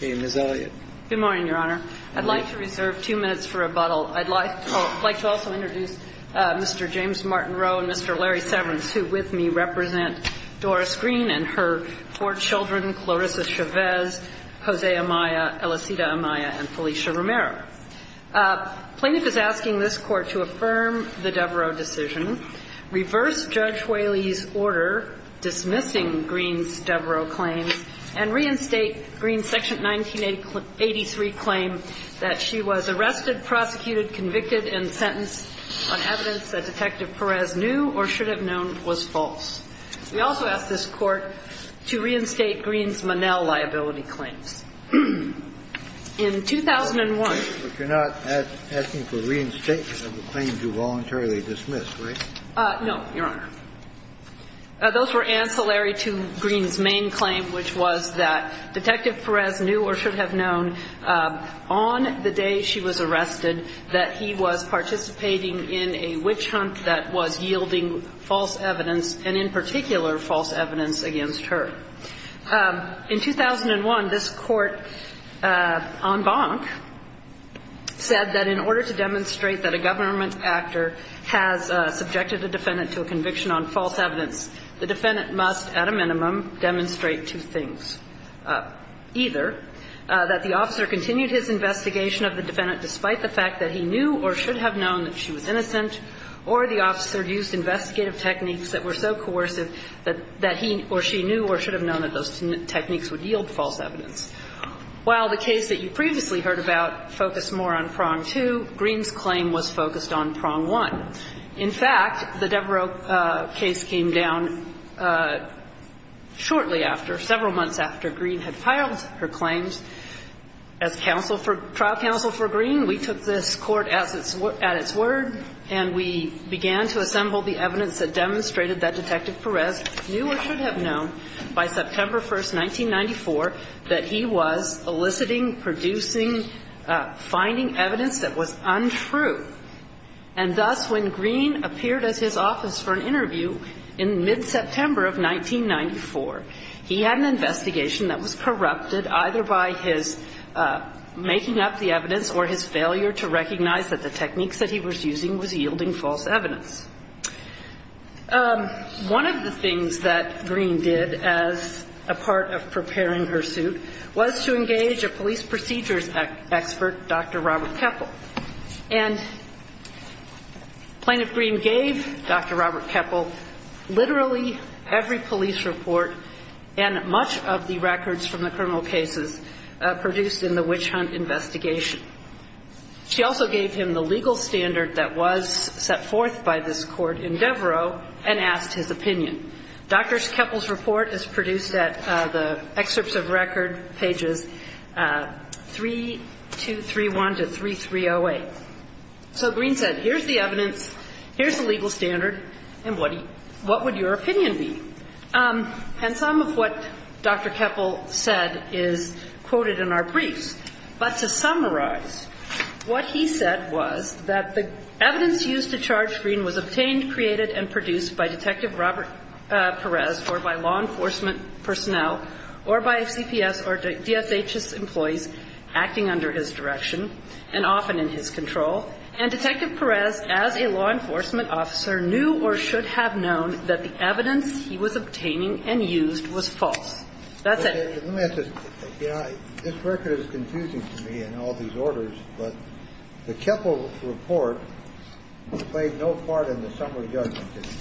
Good morning, Your Honor. I'd like to reserve two minutes for rebuttal. I'd like to also introduce Mr. James Martin Rowe and Mr. Larry Severance, who with me represent Doris Green and her four children, Clarissa Chavez, Jose Amaya, Elicita Amaya, and Felicia Romero. Plaintiff is asking this Court to affirm the Devereaux decision, reverse Judge Whaley's order dismissing Green's Devereaux claims, and reinstate Green's Section 1983 claim that she was arrested, prosecuted, convicted, and sentenced on evidence that Detective Perez knew or should have known was false. We also ask this Court to reinstate Green's Monell liability claims. In 2001 You're not asking for reinstatement of the claims you voluntarily dismissed, right? No, Your Honor. Those were ancillary to Green's main claim, which was that Detective Perez knew or should have known on the day she was arrested that he was participating in a witch hunt that was yielding false evidence, and in particular, false evidence against her. In 2001, this Court en banc said that in order to demonstrate that a government actor has subjected a defendant to a conviction on false evidence, the defendant must at a minimum demonstrate two things. Either that the officer continued his investigation of the defendant despite the fact that he knew or should have known that she was innocent, or the officer used investigative techniques that were so coercive that he or she knew or should have known that those techniques would yield false evidence. While the case that you previously heard about focused more on prong two, Green's claim was focused on prong one. In fact, the Devereux case came down shortly after, several months after Green had filed her claims. As trial counsel for Green, we took this Court at its word and we began to assemble the evidence that demonstrated that Detective Perez knew or should have known by September 1, 1994, that he was eliciting, producing, finding evidence that was untrue. And thus, when Green appeared at his office for an interview in mid-September of 1994, he had an investigation that was corrupted either by his making up the evidence or his failure to recognize that the techniques that he was using was yielding false evidence. One of the things that Green did as a part of preparing her suit was to engage a police procedures expert, Dr. Robert Keppel. And Plaintiff Green gave Dr. Robert Keppel literally every police report and much of the records from the criminal cases produced in the witch hunt investigation. She also gave him the legal standard that was set forth by this Court in Devereux and asked his opinion. Dr. Keppel's report is produced at the excerpts of record, pages 3231 to 3308. So Green said, here's the evidence, here's the legal standard, and what would your opinion be? And some of what Dr. Keppel said is quoted in our briefs. But to summarize, what he said was that the evidence used to charge Green was obtained, created, and produced by Detective Robert Perez or by law enforcement personnel or by CPS or DSHS employees acting under his direction and often in his control. And Detective Perez, as a law enforcement officer, knew or should have known that the evidence he was obtaining and used was false. That's it. This record is confusing to me in all these orders, but the Keppel report played no part in the summary judgment, did it?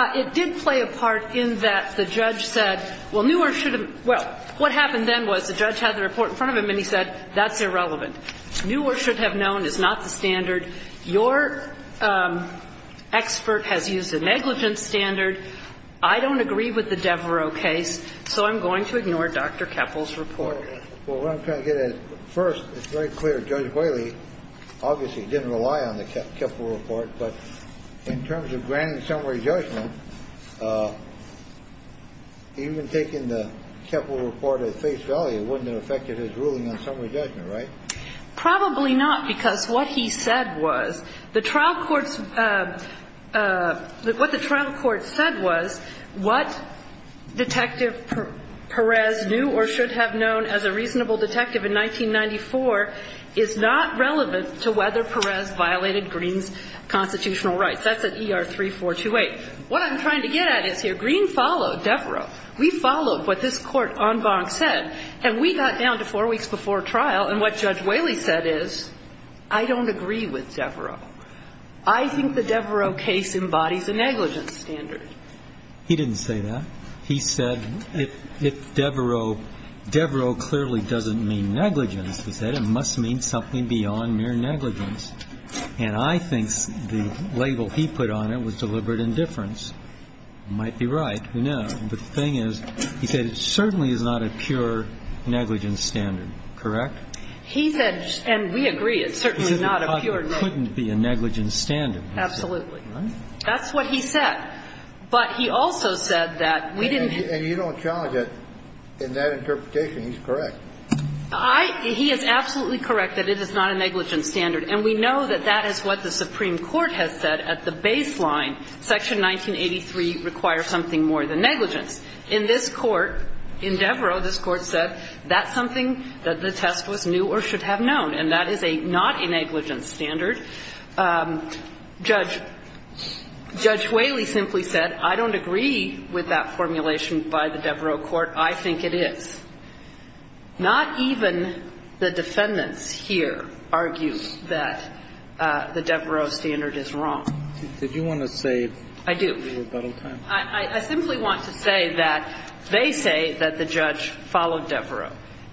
It did play a part in that the judge said, well, knew or should have known. Well, what happened then was the judge had the report in front of him and he said, that's irrelevant. Knew or should have known is not the standard. Your expert has used a negligent standard. I don't agree with the Devereux case, so I'm going to ignore Dr. Keppel's report. Well, what I'm trying to get at, first, it's very clear Judge Whaley obviously didn't rely on the Keppel report. But in terms of granting summary judgment, even taking the Keppel report at face value wouldn't have affected his ruling on summary judgment, right? Probably not, because what he said was the trial court's – what the trial court said was what Detective Perez knew or should have known as a reasonable detective in 1994 is not relevant to whether Perez violated Green's constitutional rights. That's at ER 3428. What I'm trying to get at is here, Green followed Devereux. We followed what this court en banc said. And we got down to four weeks before trial, and what Judge Whaley said is, I don't agree with Devereux. I think the Devereux case embodies a negligent standard. He didn't say that. He said if Devereux – Devereux clearly doesn't mean negligence. He said it must mean something beyond mere negligence. And I think the label he put on it was deliberate indifference. Might be right. Who knows? But the thing is, he said it certainly is not a pure negligence standard, correct? He said – and we agree, it's certainly not a pure – He said it couldn't be a negligence standard. Absolutely. That's what he said. But he also said that we didn't – And you don't challenge it in that interpretation. He's correct. I – he is absolutely correct that it is not a negligence standard. And we know that that is what the Supreme Court has said at the baseline. Section 1983 requires something more than negligence. In this Court, in Devereux, this Court said that's something that the test was new or should have known, and that is a – not a negligence standard. Judge – Judge Whaley simply said, I don't agree with that formulation by the Devereux Court. I think it is. Not even the defendants here argue that the Devereux standard is wrong. Did you want to say – I do. I simply want to say that they say that the judge followed Devereux.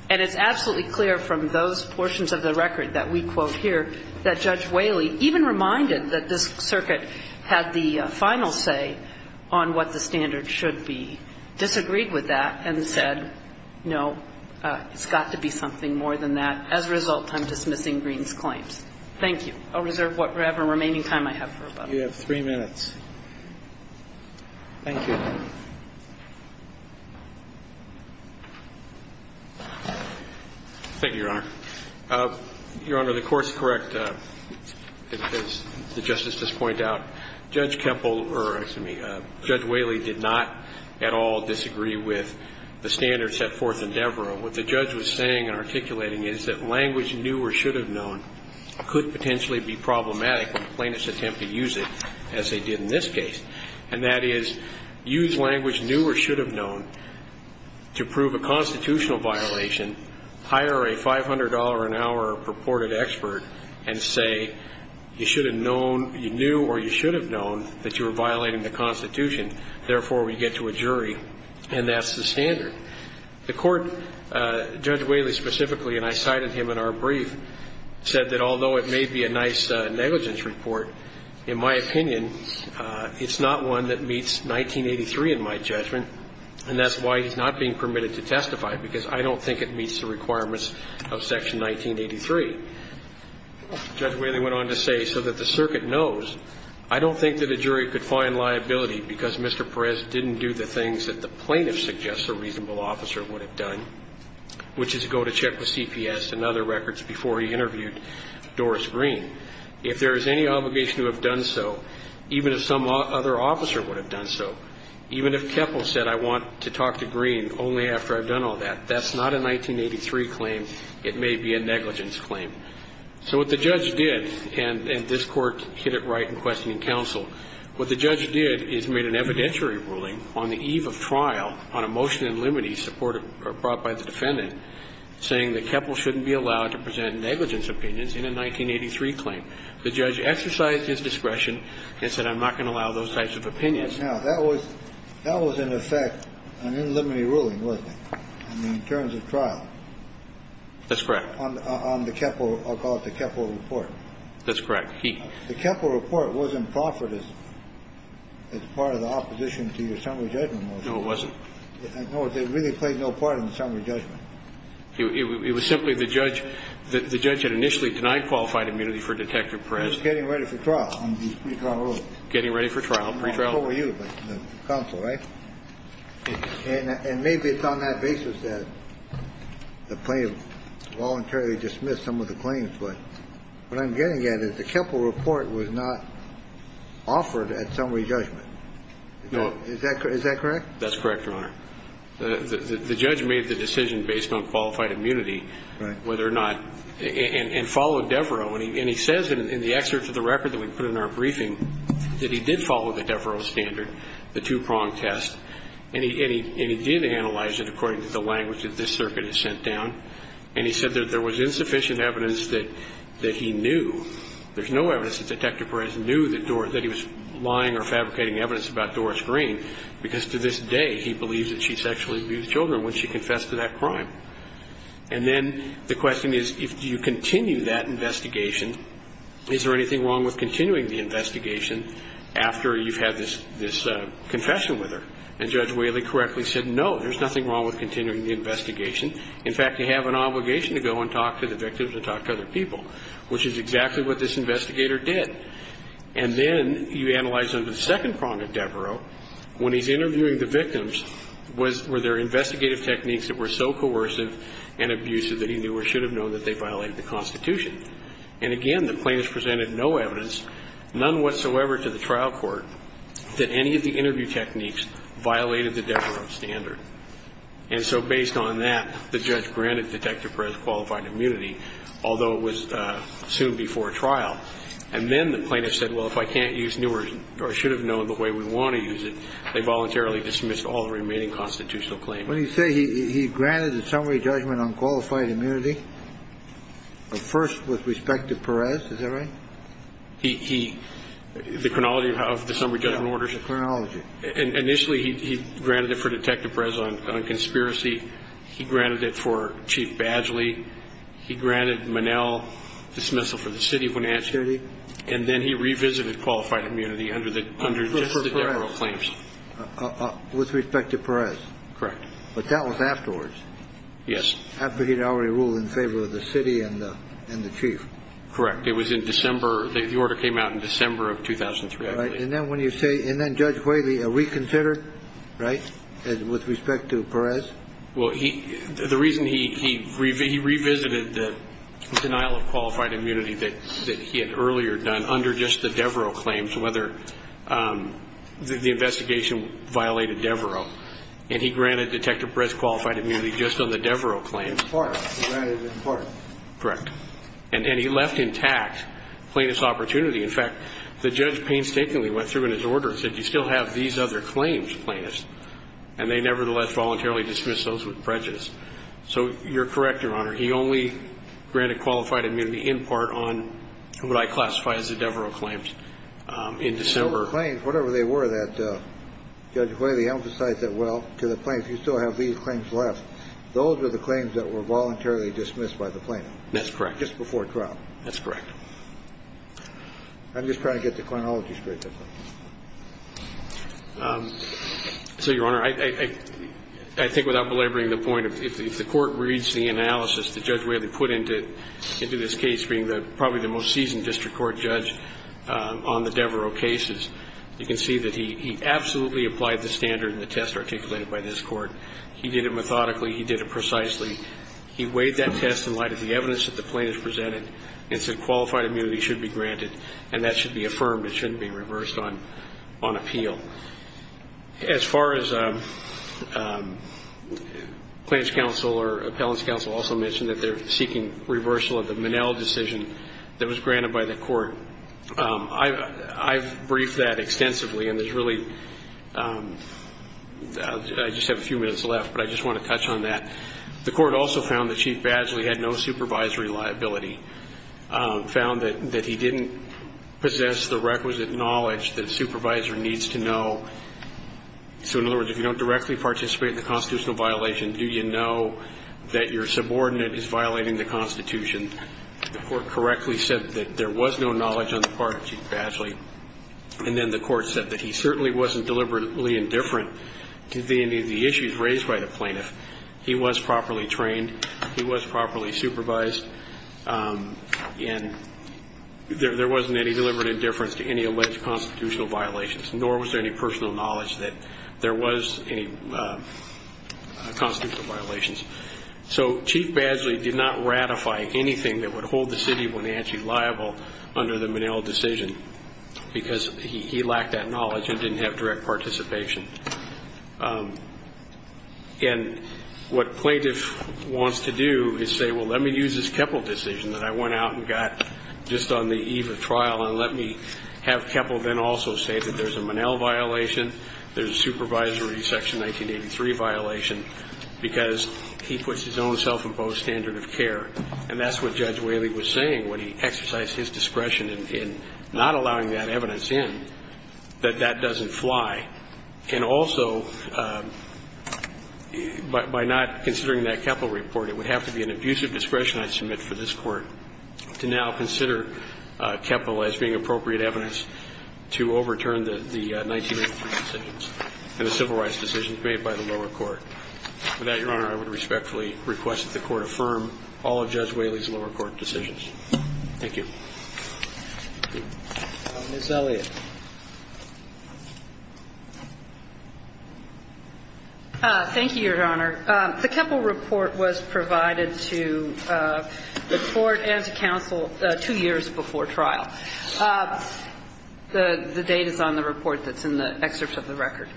And it's absolutely clear from those portions of the record that we quote here that Judge Whaley even reminded that this circuit had the final say on what the standard should be. Disagreed with that and said, no, it's got to be something more than that. As a result, I'm dismissing Green's claims. Thank you. I'll reserve whatever remaining time I have for about a minute. You have three minutes. Thank you. Thank you, Your Honor. Your Honor, the court's correct. As the Justice just pointed out, Judge Kempel – or, excuse me, Judge Whaley did not at all disagree with the standard set forth in Devereux. What the judge was saying and articulating is that language new or should have known could potentially be problematic when plaintiffs attempt to use it, as they did in this case. And that is, use language new or should have known to prove a constitutional violation, hire a $500-an-hour purported expert, and say, you should have known – you knew or you should have known that you were violating the Constitution. Therefore, we get to a jury. And that's the standard. The court, Judge Whaley specifically, and I cited him in our brief, said that although it may be a nice negligence report, in my opinion, it's not one that meets 1983 in my judgment. And that's why he's not being permitted to testify, because I don't think it meets the requirements of Section 1983. Judge Whaley went on to say, so that the circuit knows, I don't think that a jury could find liability because Mr. Perez didn't do the things that the plaintiff suggests a reasonable officer would have done, which is go to check with CPS and other records before he interviewed Doris Green. If there is any obligation to have done so, even if some other officer would have done so, even if Keppel said I want to talk to Green only after I've done all that, that's not a 1983 claim. It may be a negligence claim. So what the judge did, and this Court hit it right in questioning counsel, what the judge did is made an evidentiary ruling on the eve of trial on a motion in limine supported or brought by the defendant saying that Keppel shouldn't be allowed to present negligence opinions in a 1983 claim. The judge exercised his discretion and said I'm not going to allow those types of opinions. Now, that was in effect an in limine ruling, wasn't it, in terms of trial? That's correct. On the Keppel, I'll call it the Keppel report. That's correct. The Keppel report wasn't proffered as part of the opposition to your summary judgment. No, it wasn't. No, it really played no part in the summary judgment. It was simply the judge had initially denied qualified immunity for Detective Perez. He was getting ready for trial. Getting ready for trial. What were you? Counsel, right? And maybe it's on that basis that the plaintiff voluntarily dismissed some of the claims, but what I'm getting at is the Keppel report was not offered at summary judgment. Is that correct? That's correct, Your Honor. The judge made the decision based on qualified immunity, whether or not, and followed Devereaux, and he says in the excerpt to the record that we put in our briefing that he did follow the Devereaux standard, the two-prong test, and he did analyze it according to the language that this circuit had sent down, and he said that there was insufficient evidence that he knew. There's no evidence that Detective Perez knew that he was lying or fabricating evidence about Doris Green because to this day he believes that she sexually abused children when she confessed to that crime. And then the question is, if you continue that investigation, is there anything wrong with continuing the investigation after you've had this confession with her? And Judge Whaley correctly said, no, there's nothing wrong with continuing the investigation. In fact, you have an obligation to go and talk to the victims and talk to other people, which is exactly what this investigator did. And then you analyze under the second prong of Devereaux when he's interviewing the victims, were there investigative techniques that were so coercive and abusive that he knew or should have known that they violated the Constitution? And again, the plaintiff presented no evidence, none whatsoever to the trial court, that any of the interview techniques violated the Devereaux standard. And so based on that, the judge granted Detective Perez qualified immunity, although it was soon before trial. And then the plaintiff said, well, if I can't use new or should have known the way we want to use it, they voluntarily dismissed all the remaining constitutional claims. When you say he granted a summary judgment on qualified immunity, first with respect to Perez, is that right? He – the chronology of the summary judgment orders? The chronology. Initially, he granted it for Detective Perez on conspiracy. He granted it for Chief Badgley. He granted Monell dismissal for the city when asked. And then he revisited qualified immunity under the Devereaux claims. With respect to Perez. Correct. But that was afterwards. Yes. After he had already ruled in favor of the city and the chief. Correct. It was in December. The order came out in December of 2003. Right. And then when you say – and then Judge Whaley reconsidered, right, with respect to Perez? Well, he – the reason he – he revisited the denial of qualified immunity that he had earlier done under just the Devereaux claims, whether the investigation violated Devereaux. And he granted Detective Perez qualified immunity just on the Devereaux claims. In part. He granted it in part. Correct. And he left intact plaintiff's opportunity. In fact, the judge painstakingly went through in his order and said, you still have these other claims, plaintiffs. And they nevertheless voluntarily dismissed those with prejudice. So you're correct, Your Honor. He only granted qualified immunity in part on what I classify as the Devereaux claims in December. So the claims, whatever they were that Judge Whaley emphasized that, well, to the plaintiff, you still have these claims left. Those were the claims that were voluntarily dismissed by the plaintiff. That's correct. Just before trial. That's correct. I'm just trying to get the chronology straight. So, Your Honor, I think without belaboring the point, if the court reads the analysis that Judge Whaley put into this case, being probably the most seasoned district court judge on the Devereaux cases, you can see that he absolutely applied the standard and the test articulated by this court. He did it methodically. He did it precisely. He weighed that test in light of the evidence that the plaintiff presented and said qualified immunity should be granted. And that should be affirmed. It shouldn't be reversed. It should be reversed on appeal. As far as claims counsel or appellants counsel also mentioned that they're seeking reversal of the Minnell decision that was granted by the court. I've briefed that extensively, and there's really – I just have a few minutes left, but I just want to touch on that. The court also found that Chief Badgley had no supervisory liability, found that he didn't possess the requisite knowledge that a supervisor needs to know. So, in other words, if you don't directly participate in the constitutional violation, do you know that your subordinate is violating the Constitution? The court correctly said that there was no knowledge on the part of Chief Badgley, and then the court said that he certainly wasn't deliberately indifferent to any of the issues raised by the plaintiff. He was properly trained. He was properly supervised. And there wasn't any deliberate indifference to any alleged constitutional violations, nor was there any personal knowledge that there was any constitutional violations. So Chief Badgley did not ratify anything that would hold the city of Wenatchee liable under the Minnell decision because he lacked that knowledge and didn't have direct participation. And what plaintiff wants to do is say, well, let me use this Keppel decision that I went out and got just on the eve of trial, and let me have Keppel then also say that there's a Minnell violation, there's a supervisory Section 1983 violation, because he puts his own self-imposed standard of care. And that's what Judge Whaley was saying when he exercised his discretion in not allowing that evidence in, that that doesn't fly. And also, by not considering that Keppel report, it would have to be an abusive discretion I submit for this Court to now consider Keppel as being appropriate evidence to overturn the 1983 decisions and the civil rights decisions made by the lower court. With that, Your Honor, I would respectfully request that the Court affirm all of Judge Whaley's lower court decisions. Thank you. Ms. Elliott. Thank you, Your Honor. The Keppel report was provided to the Court and to counsel two years before trial. The date is on the report that's in the excerpt of the record.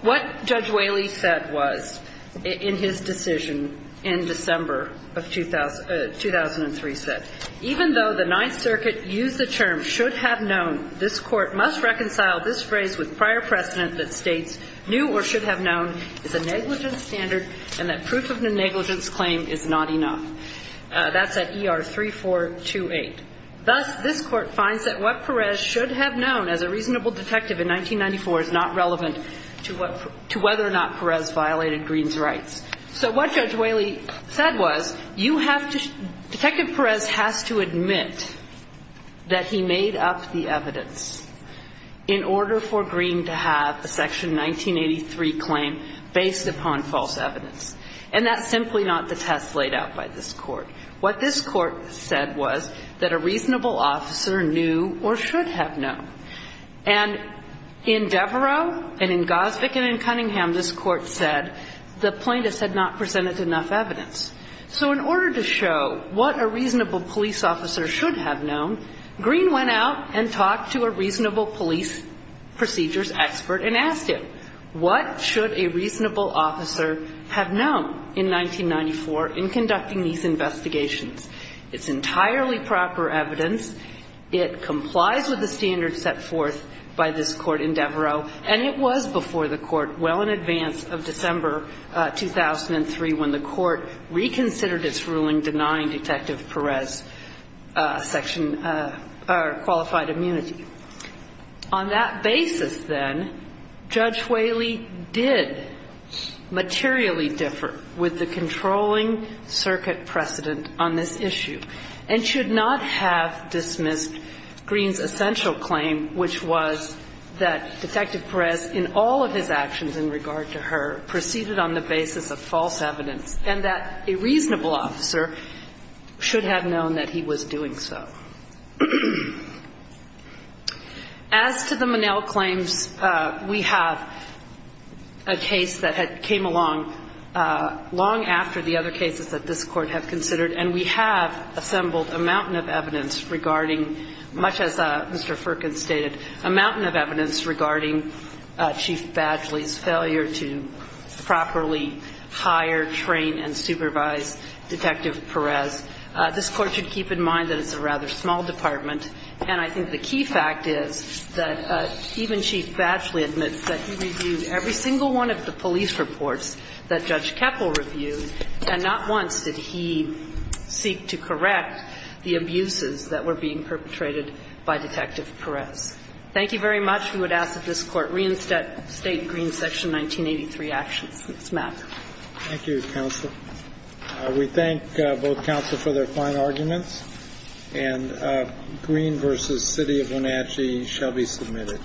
What Judge Whaley said was in his decision in December of 2003 said, even though the Ninth Circuit used the term should have known, this Court must reconcile this phrase with prior precedent that states knew or should have known is a negligence standard and that proof of negligence claim is not enough. That's at ER 3428. Thus, this Court finds that what Perez should have known as a reasonable detective in 1994 is not relevant to whether or not Perez violated Green's rights. So what Judge Whaley said was you have to – Detective Perez has to admit that he made up the evidence in order for Green to have a Section 1983 claim based upon false evidence. And that's simply not the test laid out by this Court. What this Court said was that a reasonable officer knew or should have known. And in Devereaux and in Gosvick and in Cunningham, this Court said the plaintiffs had not presented enough evidence. So in order to show what a reasonable police officer should have known, Green went out and talked to a reasonable police procedures expert and asked him, what should a reasonable officer have known in 1994 in conducting these investigations? It's entirely proper evidence. It complies with the standards set forth by this Court in Devereaux. And it was before the Court well in advance of December 2003 when the Court reconsidered its ruling denying Detective Perez Section – or qualified immunity. On that basis, then, Judge Whaley did materially differ with the controlling circuit precedent on this issue and should not have dismissed Green's essential claim, which was that Detective Perez in all of his actions in regard to her proceeded on the basis of false evidence and that a reasonable officer should have known that he was doing so. As to the Monell claims, we have a case that came along long after the other cases that this Court has considered, and we have assembled a mountain of evidence regarding, much as Mr. Firkin stated, a mountain of evidence regarding Chief Badgley's failure to properly hire, train, and supervise Detective Perez. This Court should keep in mind that it's a rather small department. And I think the key fact is that even Chief Badgley admits that he reviewed every single one of the police reports that Judge Keppel reviewed, and not once did he seek to correct the abuses that were being perpetrated by Detective Perez. Thank you very much. We would ask that this Court reinstate Green's Section 1983 actions. Ms. Mack. Thank you, counsel. We thank both counsel for their fine arguments. And Green v. City of Wenatchee shall be submitted.